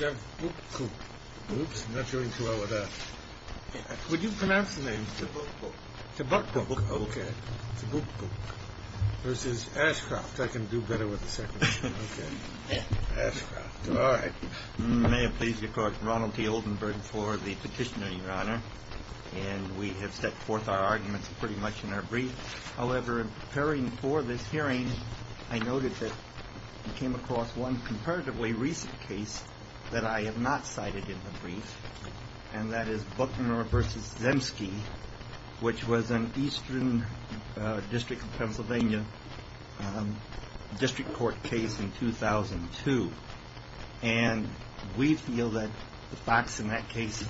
May have pleased your court, Ronald T. Oldenburg, for the petitioner, Your Honor, and we have set forth our arguments pretty much in our brief. However, in preparing for this hearing, I noted that we came across one comparatively recent case that I have not cited in the brief, and that is Buckner v. Zemsky, which was an Eastern District of Pennsylvania district court case in 2002. And we feel that the facts in that case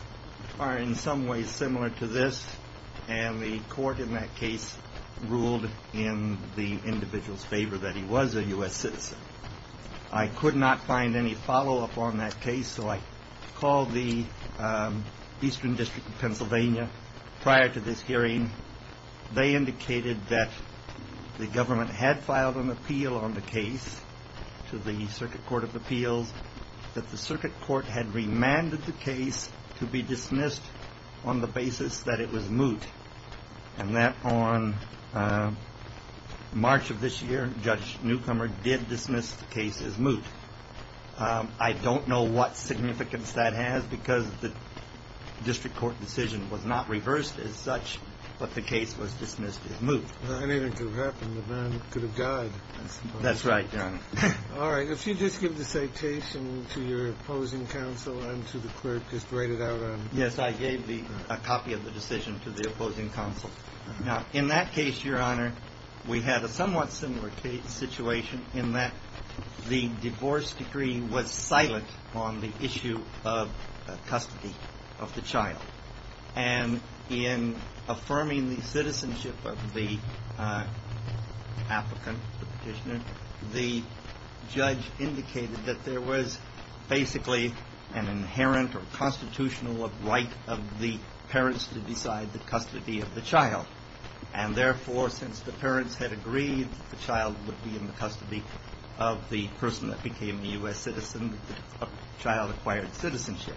are in some ways similar to this, and the court in that case ruled in the individual's favor that he was a U.S. citizen. I could not find any follow-up on that case, so I called the Eastern District of Pennsylvania prior to this hearing. They indicated that the government had filed an appeal on the case to the Circuit Court of Appeals, that the Circuit Court had remanded the case to be dismissed on the basis that it was moot, and that on March of this year, Judge Newcomer did dismiss the case as moot. I don't know what significance that has, because the district court decision was not reversed as such, but the case was dismissed as moot. I mean, it could have happened. The man could have died, I suppose. That's right, Your Honor. All right. If you just give the citation to your opposing counsel and to the clerk, just Yes, I gave a copy of the decision to the opposing counsel. Now, in that case, Your Honor, we had a somewhat similar situation in that the divorce decree was silent on the issue of custody of the child. And in affirming the citizenship of the applicant, the Petitioner, the judge indicated that there was basically an inherent or constitutional right of the parents to decide the custody of the child. And therefore, since the parents had agreed that the child would be in the custody of the person that became a U.S. citizen, the child acquired citizenship.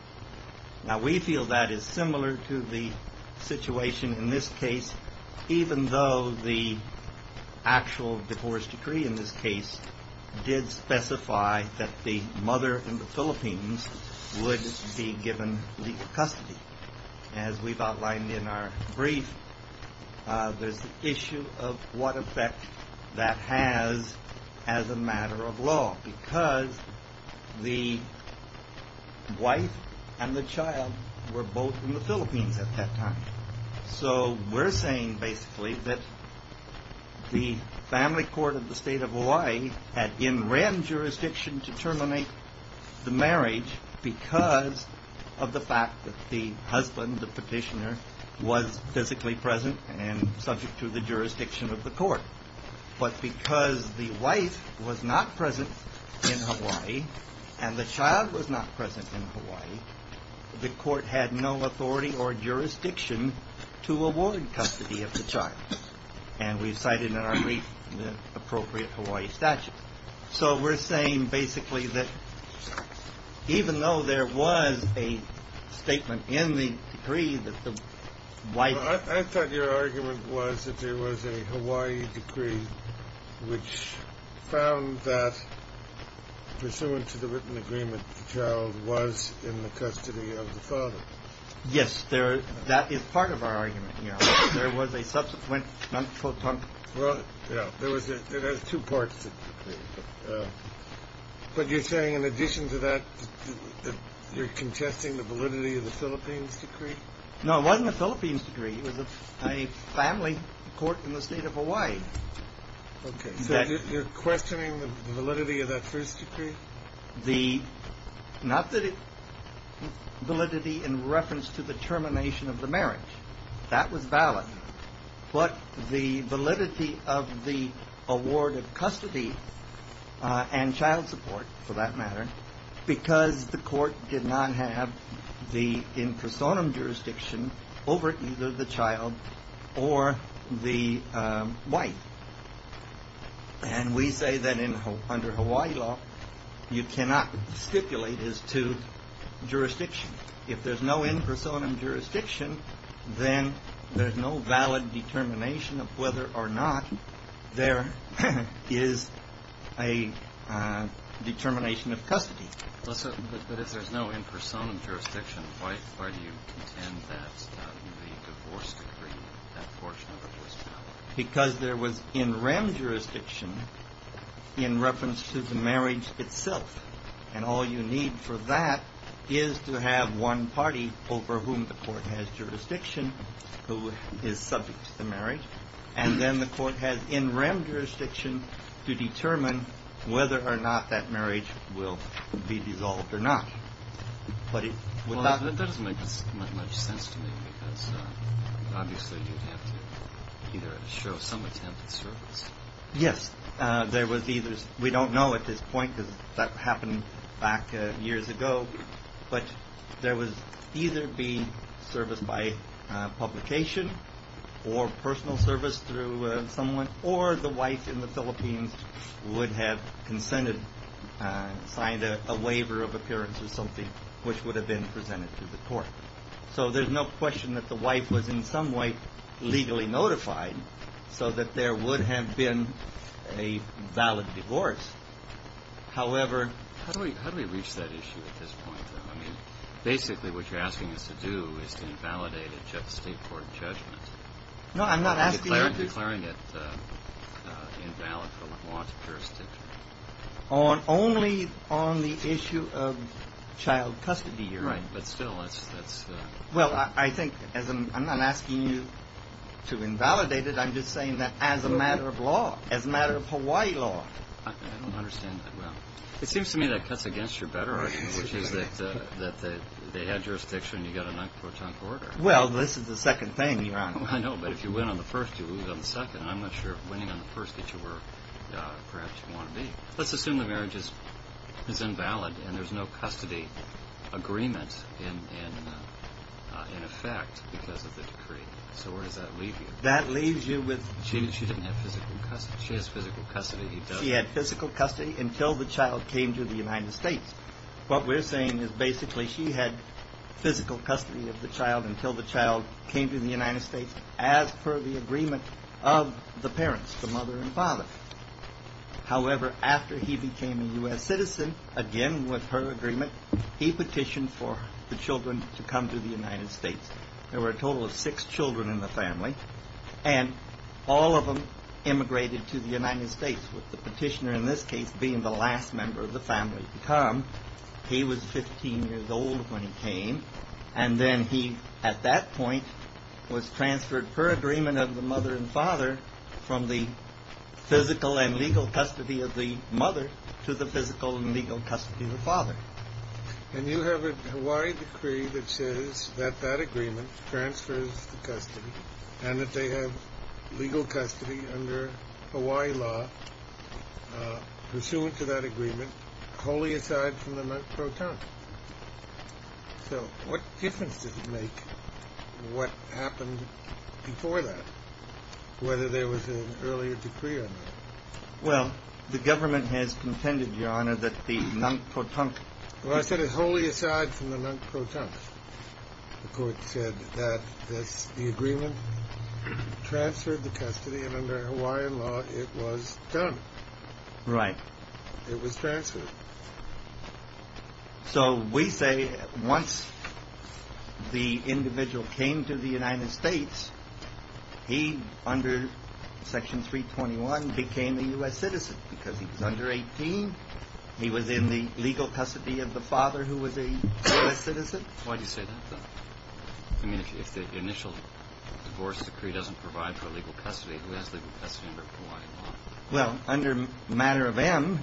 Now, we feel that is similar to the situation in this case, even though the actual divorce decree in this case did specify that the mother in the Philippines would be given legal custody. As we've outlined in our brief, there's the issue of what effect that has as a matter of law. Because the wife and the child were both in the Philippines at that time. So we're saying basically that the family court of the state of Hawaii had in random jurisdiction to terminate the marriage because of the fact that the husband, the petitioner, was physically present and subject to the jurisdiction of the court. But because the wife was not present in Hawaii and the child was not present in Hawaii, the court had no authority or jurisdiction to award custody of the child. And we've cited in our brief the appropriate Hawaii statute. So we're saying basically that even though there was a statement in the decree that the wife... which found that pursuant to the written agreement, the child was in the custody of the father. Yes, that is part of our argument. There was a subsequent... Well, yeah, there was two parts. But you're saying in addition to that, you're contesting the validity of the Philippines decree? No, it wasn't a Philippines decree. It was a family court in the state of Hawaii. Okay. So you're questioning the validity of that first decree? Not the validity in reference to the termination of the marriage. That was valid. But the validity of the award of custody and child support, for that matter, because the court did not have the in personam jurisdiction over either the child or the wife. And we say that under Hawaii law, you cannot stipulate as to jurisdiction. If there's no in personam jurisdiction, then there's no valid determination of whether or not there is a determination of custody. But if there's no in personam jurisdiction, why do you contend that the divorce decree, that portion of it was valid? Because there was in rem jurisdiction in reference to the marriage itself. And all you need for that is to have one party over whom the court has jurisdiction, who is subject to the marriage. And then the court has in rem jurisdiction to determine whether or not that marriage will be dissolved or not. That doesn't make much sense to me, because obviously you'd have to either show some attempt at service. So there's no question that the wife was in some way legally notified so that there would have been a valid divorce. However. How do we reach that issue at this point? I mean, basically what you're asking us to do is to invalidate a state court judgment. No, I'm not asking you to. Declaring it invalid from a law to pure state. Only on the issue of child custody. Right. But still, that's. Well, I think as I'm asking you to invalidate it, I'm just saying that as a matter of law, as a matter of Hawaii law. I don't understand that. Well, it seems to me that cuts against your better argument, which is that they had jurisdiction. You got a non-quotient order. Well, this is the second thing. I know, but if you win on the first, you lose on the second. I'm not sure winning on the first that you were perhaps want to be. Let's assume the marriage is invalid and there's no custody agreement in effect because of the decree. So where does that leave you? That leaves you with. She didn't have physical custody. She has physical custody. He had physical custody until the child came to the United States. What we're saying is basically she had physical custody of the child until the child came to the United States. As per the agreement of the parents, the mother and father. However, after he became a U.S. citizen again with her agreement, he petitioned for the children to come to the United States. There were a total of six children in the family and all of them immigrated to the United States. With the petitioner, in this case, being the last member of the family to come. He was 15 years old when he came. And then he, at that point, was transferred per agreement of the mother and father from the physical and legal custody of the mother to the physical and legal custody of the father. And you have a Hawaii decree that says that that agreement transfers custody and that they have legal custody under Hawaii law. Pursuant to that agreement. Wholly aside from the proton. So what difference does it make? What happened before that? Whether there was an earlier decree. Well, the government has contended, Your Honor, that the non-proton. Well, I said it wholly aside from the non-proton. The court said that this agreement transferred the custody and under Hawaiian law, it was done right. It was transferred. So we say once the individual came to the United States, he under Section 321 became a U.S. citizen because he was under 18. He was in the legal custody of the father who was a U.S. citizen. Why do you say that? I mean, if the initial divorce decree doesn't provide for legal custody, who has legal custody under Hawaii law? Well, under matter of M,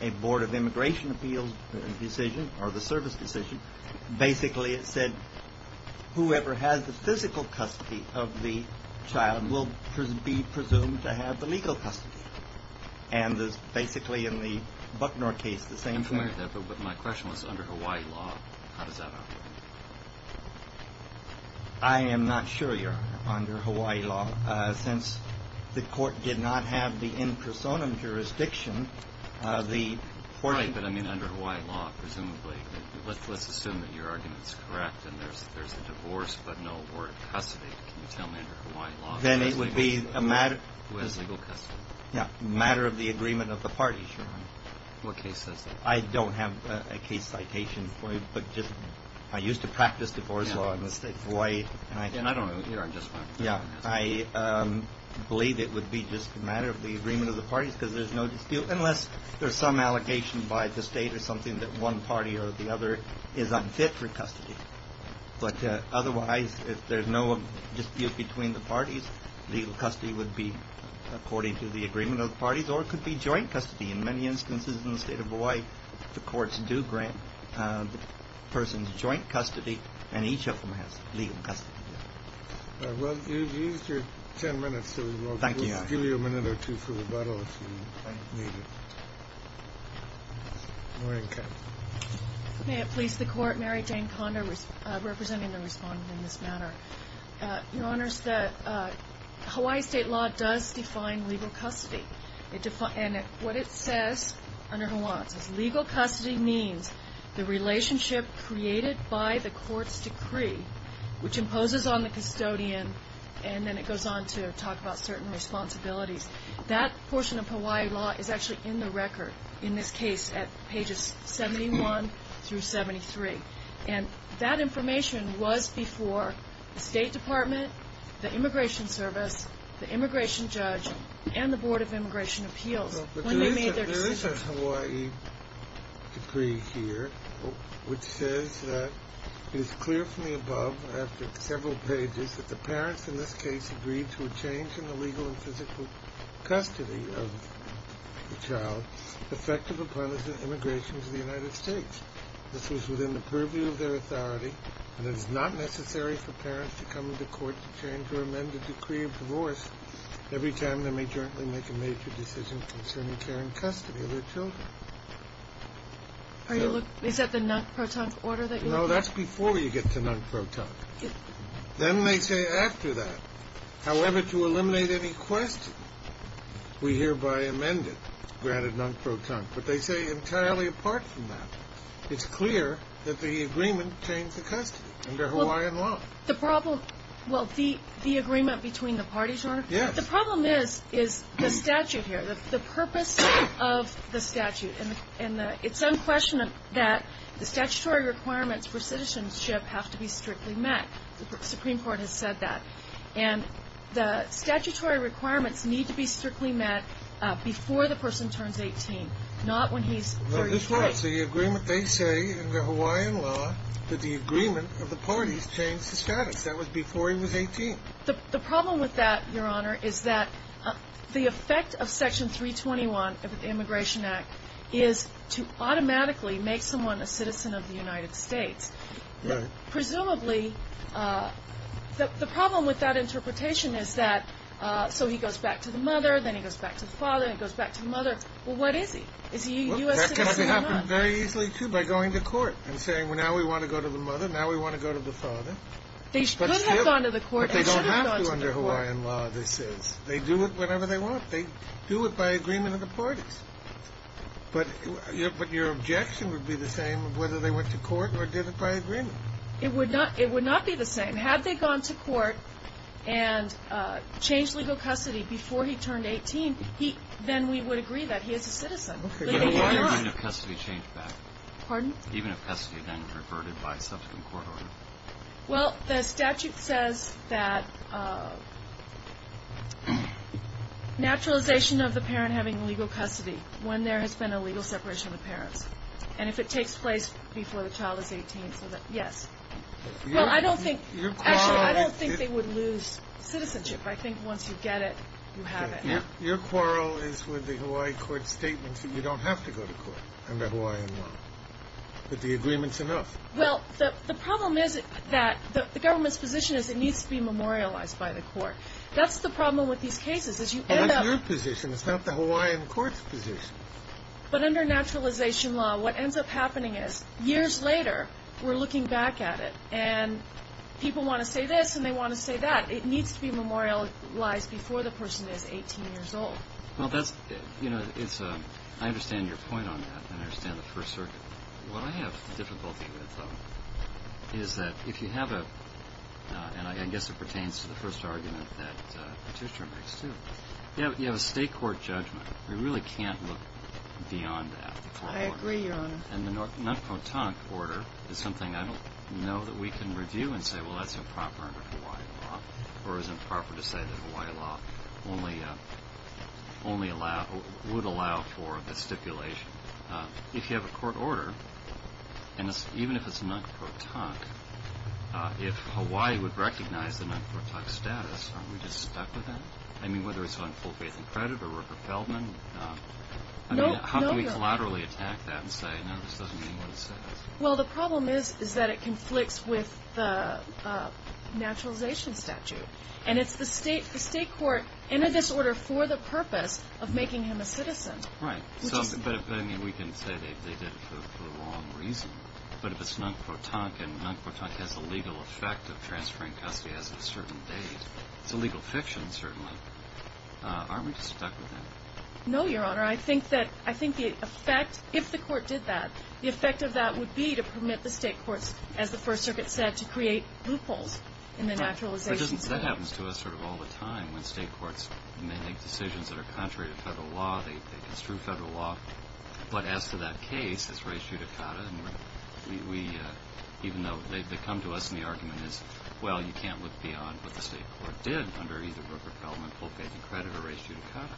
a Board of Immigration Appeals decision or the service decision, basically it said whoever has the physical custody of the child will be presumed to have the legal custody. And basically in the Bucknor case, the same thing. But my question was under Hawaii law. How does that operate? I am not sure, Your Honor, under Hawaii law. Since the court did not have the in personam jurisdiction, the court. Right, but I mean under Hawaii law, presumably. Let's assume that your argument is correct and there's a divorce but no word of custody. Can you tell me under Hawaii law? Then it would be a matter. Who has legal custody. Yeah, matter of the agreement of the parties, Your Honor. What case says that? I don't have a case citation for you, but I used to practice divorce law in the State of Hawaii. And I don't know. Yeah, I believe it would be just a matter of the agreement of the parties because there's no dispute. Unless there's some allegation by the state or something that one party or the other is unfit for custody. But otherwise, if there's no dispute between the parties, legal custody would be according to the agreement of the parties. Or it could be joint custody. In many instances in the State of Hawaii, the courts do grant the person's joint custody and each of them has legal custody. Well, you've used your 10 minutes. Thank you. I'll give you a minute or two for rebuttal if you need it. May it please the court. Mary Jane Condor representing the respondent in this matter. Your Honor, Hawaii state law does define legal custody. And what it says under Hawaii is legal custody means the relationship created by the court's decree, which imposes on the custodian and then it goes on to talk about certain responsibilities. That portion of Hawaii law is actually in the record in this case at pages 71 through 73. And that information was before the State Department, the Immigration Service, the immigration judge, and the Board of Immigration Appeals. There is a Hawaii decree here which says that it is clear from the above, after several pages, that the parents in this case agreed to a change in the legal and physical custody of the child effective upon his immigration to the United States. This was within the purview of their authority, and it is not necessary for parents to come to court to change or amend the decree of divorce every time they may jointly make a major decision concerning care and custody of their children. Is that the non-proton order that you look at? No, that's before you get to non-proton. Then they say after that, however, to eliminate any question, we hereby amend it, granted non-proton. But they say entirely apart from that. It's clear that the agreement changed the custody under Hawaiian law. Well, the agreement between the parties, Your Honor? Yes. The problem is the statute here, the purpose of the statute. And it's unquestionable that the statutory requirements for citizenship have to be strictly met. The Supreme Court has said that. And the statutory requirements need to be strictly met before the person turns 18, not when he's 38. This was the agreement they say in the Hawaiian law that the agreement of the parties changed the status. That was before he was 18. The problem with that, Your Honor, is that the effect of Section 321 of the Immigration Act is to automatically make someone a citizen of the United States. Right. Presumably, the problem with that interpretation is that so he goes back to the mother, then he goes back to the father, then he goes back to the mother. Well, what is he? Is he a U.S. citizen or not? Well, that can happen very easily, too, by going to court and saying, well, now we want to go to the mother, now we want to go to the father. They could have gone to the court and should have gone to the court. But they don't have to under Hawaiian law, this is. They do it whenever they want. They do it by agreement of the parties. But your objection would be the same of whether they went to court or did it by agreement. It would not be the same. Had they gone to court and changed legal custody before he turned 18, then we would agree that he is a citizen. Even if custody changed back? Pardon? Even if custody then reverted by subsequent court order? Well, the statute says that naturalization of the parent having legal custody when there has been a legal separation of the parents, and if it takes place before the child is 18, yes. Well, I don't think they would lose citizenship. I think once you get it, you have it now. Your quarrel is with the Hawaii court statements that you don't have to go to court under Hawaiian law. But the agreement is enough. Well, the problem is that the government's position is it needs to be memorialized by the court. That's the problem with these cases. That's your position. It's not the Hawaiian court's position. But under naturalization law, what ends up happening is, years later, we're looking back at it, and people want to say this and they want to say that. It needs to be memorialized before the person is 18 years old. Well, that's, you know, it's, I understand your point on that. I understand the First Circuit. What I have difficulty with, though, is that if you have a, and I guess it pertains to the first argument that Patricia makes too, you have a state court judgment. We really can't look beyond that. I agree, Your Honor. And the non-quotonic order is something I don't know that we can review and say, well, that's improper under Hawaiian law, or is improper to say that Hawaiian law only would allow for the stipulation. If you have a court order, and even if it's non-quotonic, if Hawaii would recognize the non-quotonic status, aren't we just stuck with that? I mean, whether it's on full faith and credit or Rupert Feldman. How can we collaterally attack that and say, no, this doesn't mean what it says? Well, the problem is that it conflicts with the naturalization statute. And it's the state court, in this order, for the purpose of making him a citizen. Right. But we can say they did it for a long reason. But if it's non-quotonic and non-quotonic has the legal effect of transferring custody as of a certain date, it's a legal fiction, certainly. Aren't we just stuck with that? No, Your Honor. I think the effect, if the court did that, the effect of that would be to permit the state courts, as the First Circuit said, to create loopholes in the naturalization statute. Right. But that happens to us sort of all the time when state courts make decisions that are contrary to federal law. They construe federal law. But as to that case, it's res judicata. And even though they come to us and the argument is, well, you can't look beyond what the state court did under either Rupert Feldman, full faith and credit, or res judicata.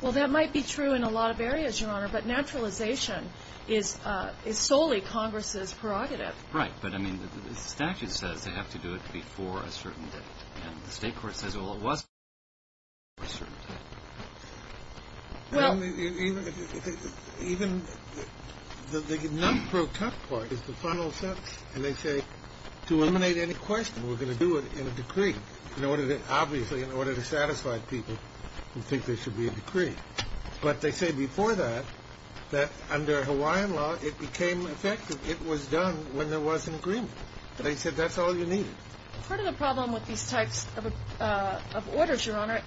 Well, that might be true in a lot of areas, Your Honor. But naturalization is solely Congress's prerogative. Right. But, I mean, the statute says they have to do it before a certain date. And the state court says, well, it was before a certain date. Well. Even the numb-pro-tough part is the final sentence. And they say, to eliminate any question, we're going to do it in a decree, obviously in order to satisfy people who think there should be a decree. But they say before that, that under Hawaiian law, it became effective. It was done when there was an agreement. They said that's all you need. Part of the problem with these types of orders, Your Honor,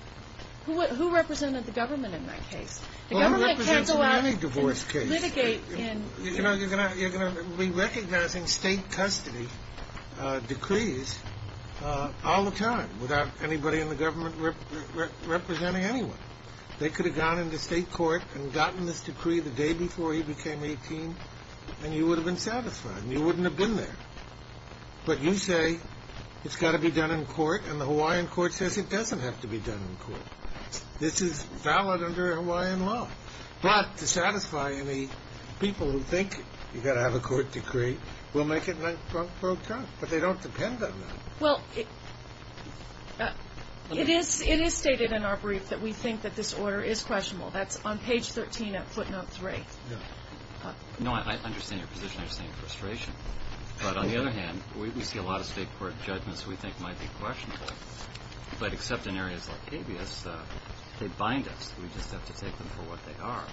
who represented the government in that case? The government can't go out and litigate in any divorce case. You know, you're going to be recognizing state custody decrees all the time without anybody in the government representing anyone. They could have gone into state court and gotten this decree the day before he became 18, and you would have been satisfied, and you wouldn't have been there. But you say it's got to be done in court, and the Hawaiian court says it doesn't have to be done in court. This is valid under Hawaiian law. But to satisfy any people who think you've got to have a court decree, we'll make it numb-pro-tough. But they don't depend on that. Well, it is stated in our brief that we think that this order is questionable. That's on page 13 of footnote 3. Yeah. No, I understand your position. I understand your frustration. But on the other hand, we see a lot of state court judgments we think might be questionable. But except in areas like habeas, they bind us. We just have to take them for what they are.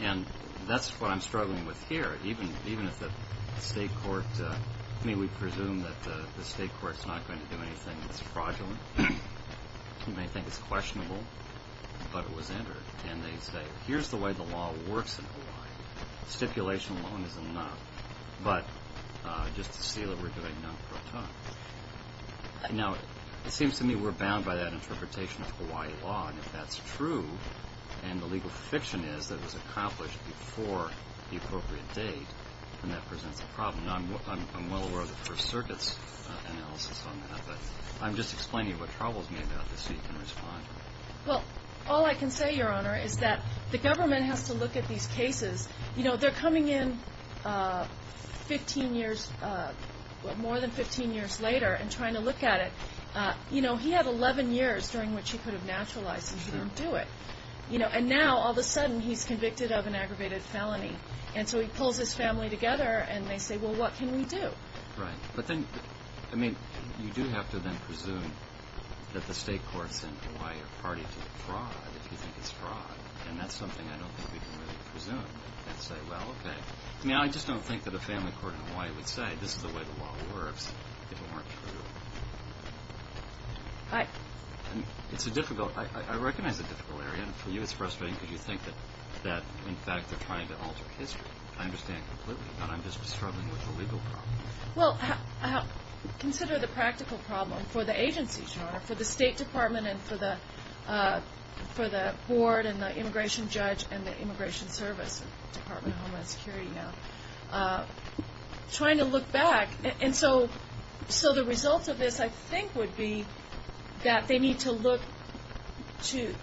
And that's what I'm struggling with here. Even if the state court, I mean, we presume that the state court's not going to do anything. It's fraudulent. You may think it's questionable, but it was entered. And they say, here's the way the law works in Hawaii. Stipulation alone is enough. But just to see that we're doing numb-pro-tough. Now, it seems to me we're bound by that interpretation of Hawaii law. And if that's true, and the legal fiction is that it was accomplished before the appropriate date, then that presents a problem. I'm well aware of the First Circuit's analysis on that. But I'm just explaining what troubles me about this so you can respond. Well, all I can say, Your Honor, is that the government has to look at these cases. You know, they're coming in 15 years, more than 15 years later, and trying to look at it. You know, he had 11 years during which he could have naturalized, and he didn't do it. And now, all of a sudden, he's convicted of an aggravated felony. And so he pulls his family together, and they say, well, what can we do? Right. But then, I mean, you do have to then presume that the state courts in Hawaii are party to the fraud, if you think it's fraud. And that's something I don't think we can really presume and say, well, okay. I mean, I just don't think that a family court in Hawaii would say, this is the way the law works, if it weren't true. It's a difficult, I recognize it's a difficult area. And for you, it's frustrating because you think that, in fact, they're trying to alter history. I understand completely. And I'm just struggling with the legal problem. Well, consider the practical problem for the agency, Your Honor, for the State Department and for the board and the immigration judge and the immigration service, Department of Homeland Security now, trying to look back. And so the result of this, I think, would be that they need to look to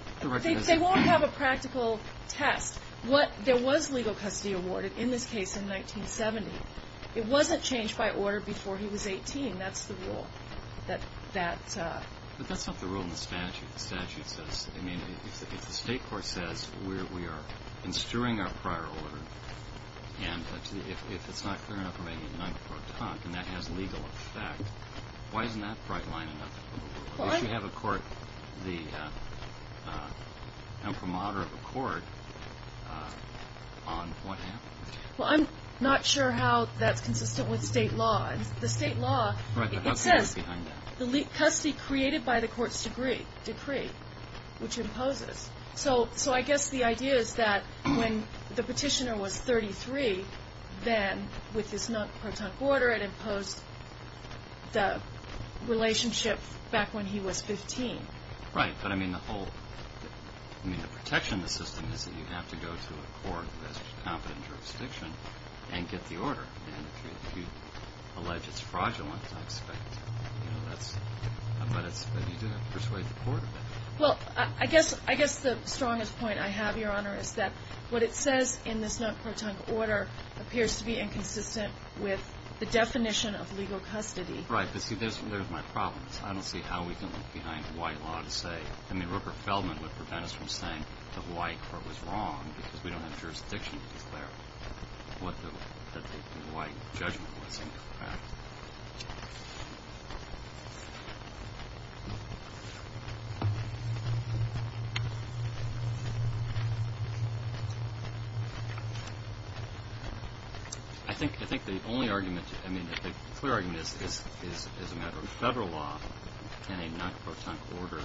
they won't have a practical test. There was legal custody awarded in this case in 1970. It wasn't changed by order before he was 18. That's the rule. In the statute, the statute says, I mean, if the state court says we are instruing our prior order, and if it's not clear enough for me to deny before I talk, and that has legal effect, why isn't that bright line enough? If you have a court, the promoter of a court, on what happens? Well, I'm not sure how that's consistent with state law. The state law, it says the custody created by the court's decree, which imposes. So I guess the idea is that when the petitioner was 33, then with this non-protunct order, it imposed the relationship back when he was 15. Right. But I mean, the protection of the system is that you have to go to a court that has competent jurisdiction and get the order. And if you allege it's fraudulent, I expect, you know, that's – but you do have to persuade the court of it. Well, I guess the strongest point I have, Your Honor, is that what it says in this non-protunct order appears to be inconsistent with the definition of legal custody. Right. But see, there's my problem. I don't see how we can look behind white law to say – I mean, Rupert Feldman would prevent us from saying the white court was wrong because we don't have jurisdiction to declare what the white judgment was. Right. I think the only argument – I mean, the clear argument is as a matter of federal law, can a non-protunct order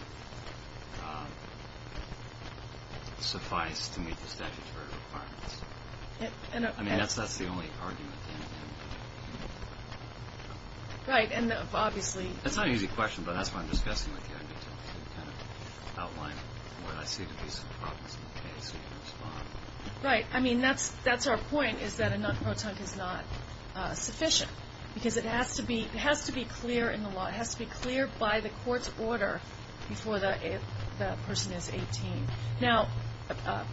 suffice to meet the statutory requirements? I mean, that's the only argument. Right. And obviously – That's not an easy question, but that's what I'm discussing with you. I need to kind of outline what I see to be some problems in the case so you can respond. Right. I mean, that's our point is that a non-protunct is not sufficient because it has to be clear in the law. It has to be clear by the court's order before the person is 18. Now,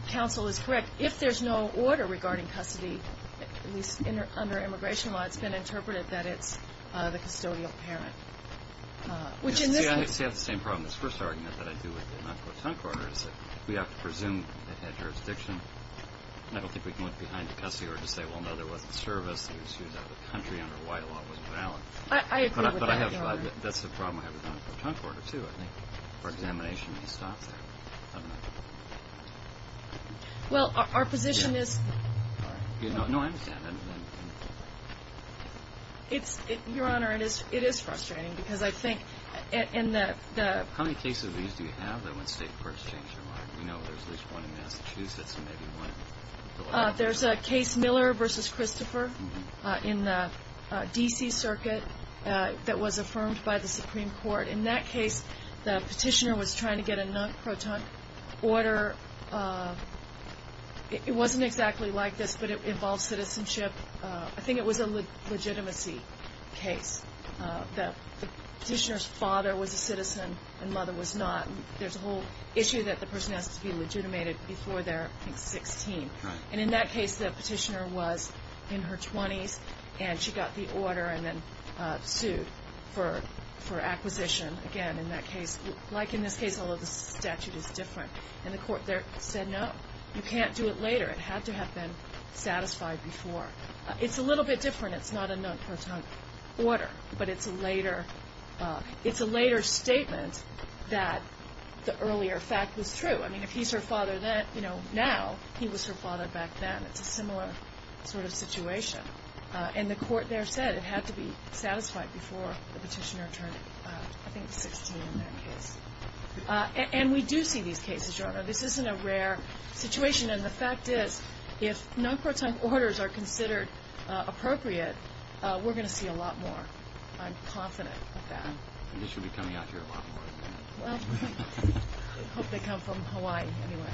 counsel is correct. If there's no order regarding custody, at least under immigration law, it's been interpreted that it's the custodial parent, which in this case – See, I have the same problem. This first argument that I do with the non-protunct order is that we have to presume it had jurisdiction. I don't think we can look behind the custody order to say, well, no, there wasn't service. It was used out of the country under white law. It wasn't valid. I agree with that. But I have – that's the problem I have with the non-protunct order, too. I think for examination, it stops there. Well, our position is – No, I understand. Your Honor, it is frustrating because I think in the – How many cases do you have that when state courts change their mind? We know there's at least one in Massachusetts and maybe one in Delaware. There's a case Miller v. Christopher in the D.C. Circuit that was affirmed by the Supreme Court. In that case, the petitioner was trying to get a non-protunct order. It wasn't exactly like this, but it involved citizenship. I think it was a legitimacy case that the petitioner's father was a citizen and mother was not. There's a whole issue that the person has to be legitimated before they're, I think, 16. And in that case, the petitioner was in her 20s, and she got the order and then sued for acquisition. Again, in that case – like in this case, although the statute is different. And the court there said, no, you can't do it later. It had to have been satisfied before. It's a little bit different. It's not a non-protunct order, but it's a later – it's a later statement that the earlier fact was true. I mean, if he's her father now, he was her father back then. It's a similar sort of situation. And the court there said it had to be satisfied before the petitioner turned, I think, 16 in that case. And we do see these cases, Your Honor. This isn't a rare situation. And the fact is, if non-protunct orders are considered appropriate, we're going to see a lot more. I'm confident of that. I guess you'll be coming out here a lot more. Well, I hope they come from Hawaii anyway.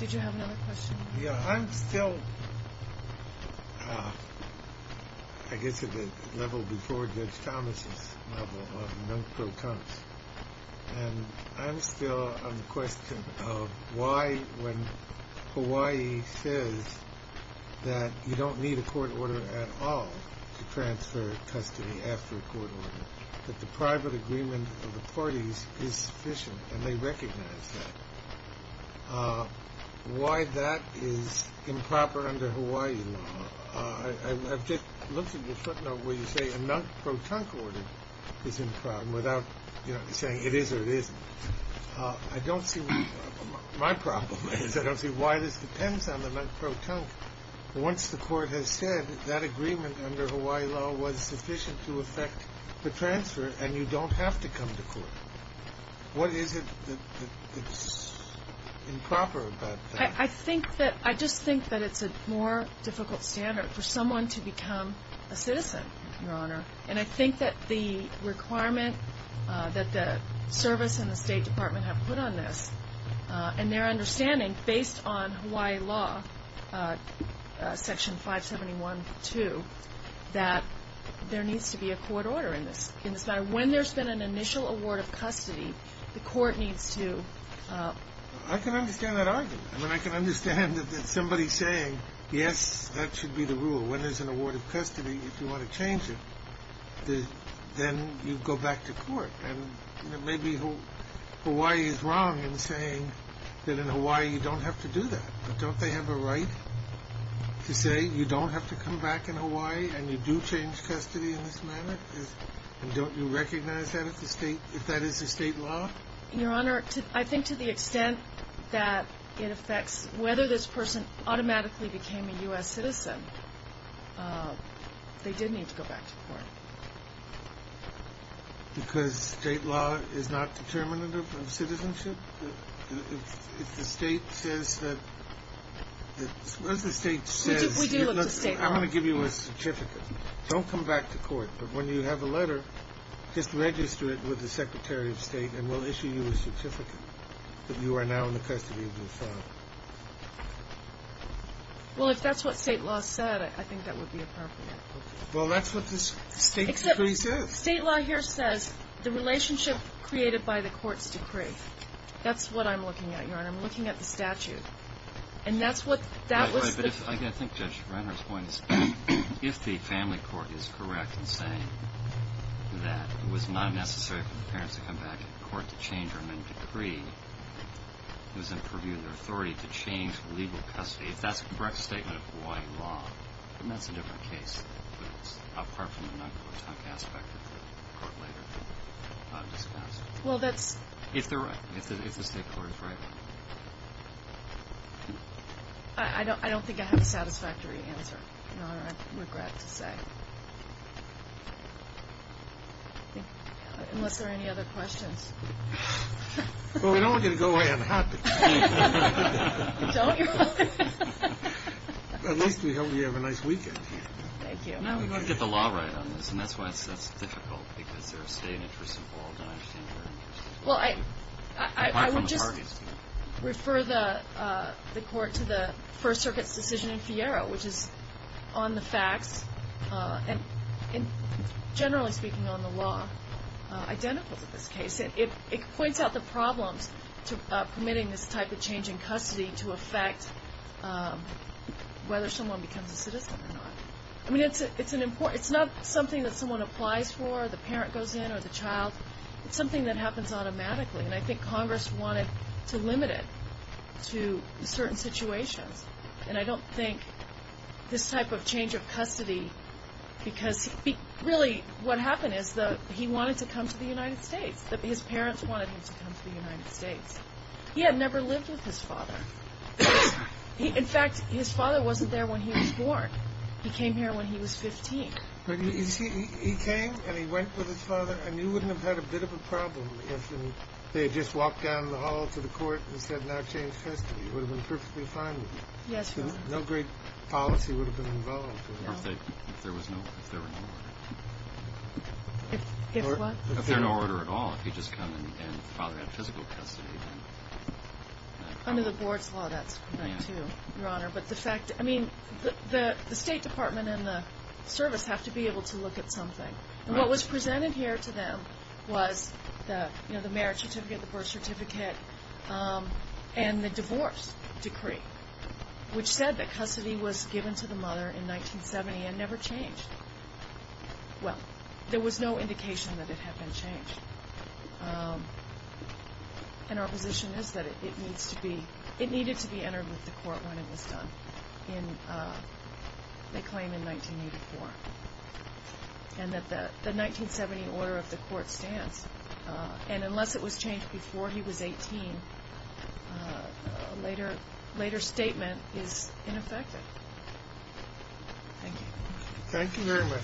Did you have another question? Yeah. I'm still, I guess, at the level before Judge Thomas' level of non-protuncts. And I'm still on the question of why, when Hawaii says that you don't need a court order at all to transfer custody after a court order, that the private agreement of the parties is sufficient and they recognize that, why that is improper under Hawaii law. I've looked at your footnote where you say a non-protunct order is improper without saying it is or it isn't. My problem is I don't see why this depends on the non-protunct. Well, once the court has said that agreement under Hawaii law was sufficient to effect the transfer and you don't have to come to court, what is it that is improper about that? I just think that it's a more difficult standard for someone to become a citizen, Your Honor. And I think that the requirement that the service and the State Department have put on this and their understanding based on Hawaii law, Section 571.2, that there needs to be a court order in this matter. When there's been an initial award of custody, the court needs to… I can understand that argument. I mean, I can understand that somebody saying, yes, that should be the rule. When there's an award of custody, if you want to change it, then you go back to court. And maybe Hawaii is wrong in saying that in Hawaii you don't have to do that. But don't they have a right to say you don't have to come back in Hawaii and you do change custody in this manner? And don't you recognize that if that is the state law? Your Honor, I think to the extent that it affects whether this person automatically became a U.S. citizen, they did need to go back to court. Because state law is not determinative of citizenship? If the state says that… We do look to state law. I'm going to give you a certificate. Don't come back to court. But when you have a letter, just register it with the Secretary of State, and we'll issue you a certificate that you are now in the custody of your father. Well, if that's what state law said, I think that would be appropriate. Well, that's what the state decree says. State law here says the relationship created by the court's decree. That's what I'm looking at, Your Honor. I'm looking at the statute. And that's what… I think Judge Renner's point is if the family court is correct in saying that it was not necessary for the parents to come back to court to change their amendment decree, it was in purview of their authority to change legal custody, if that's a correct statement of Hawaii law. And that's a different case. But apart from the non-court aspect that the court later discussed. Well, that's… If they're right. If the state court is right. I don't think I have a satisfactory answer, Your Honor. I regret to say. Unless there are any other questions. Well, we don't want you to go away unhappy. Don't you? At least we hope you have a nice weekend here. Thank you. No, we want to get the law right on this. And that's why it's difficult because there are state interests involved. I understand very much. Well, I would just refer the court to the First Circuit's decision in Fiero, which is on the facts. And generally speaking on the law, identical to this case. It points out the problems to permitting this type of change in custody to affect whether someone becomes a citizen or not. I mean, it's not something that someone applies for, the parent goes in or the child. It's something that happens automatically. And I think Congress wanted to limit it to certain situations. And I don't think this type of change of custody because really what happened is he wanted to come to the United States. His parents wanted him to come to the United States. He had never lived with his father. In fact, his father wasn't there when he was born. He came here when he was 15. But you see, he came and he went with his father. And you wouldn't have had a bit of a problem if they had just walked down the hall to the court and said now change custody. It would have been perfectly fine with you. Yes, Your Honor. No great policy would have been involved. If there were no order. If what? If there were no order at all, if he had just come and the father had physical custody. Under the board's law, that's correct too, Your Honor. But the fact, I mean, the State Department and the service have to be able to look at something. And what was presented here to them was the marriage certificate, the birth certificate, and the divorce decree, which said that custody was given to the mother in 1970 and never changed. Well, there was no indication that it had been changed. And our position is that it needs to be, it needed to be entered with the court when it was done, they claim in 1984. And that the 1970 order of the court stands. And unless it was changed before he was 18, a later statement is ineffective. Thank you. Thank you very much.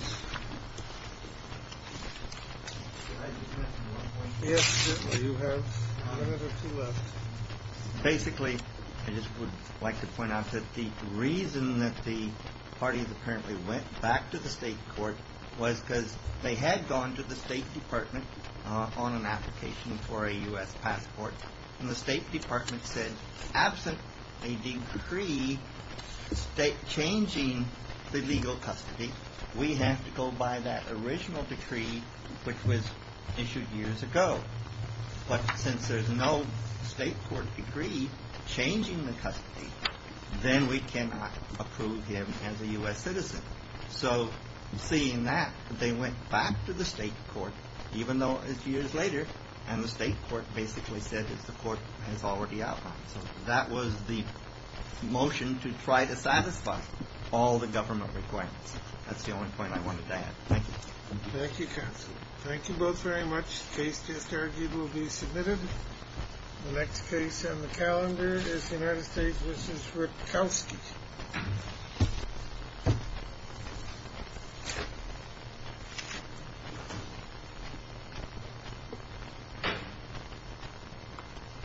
Basically, I just would like to point out that the reason that the parties apparently went back to the state court was because they had gone to the State Department on an application for a U.S. passport. And the State Department said, absent a decree changing the legal custody, we have to go by that original decree which was issued years ago. But since there's no state court decree changing the custody, then we cannot approve him as a U.S. citizen. So seeing that, they went back to the state court, even though it's years later. And the state court basically said that the court has already outlined. So that was the motion to try to satisfy all the government requirements. That's the only point I wanted to add. Thank you. Thank you, counsel. Thank you both very much. The case just argued will be submitted. The next case on the calendar is the United States v. Rutkowski. Thank you.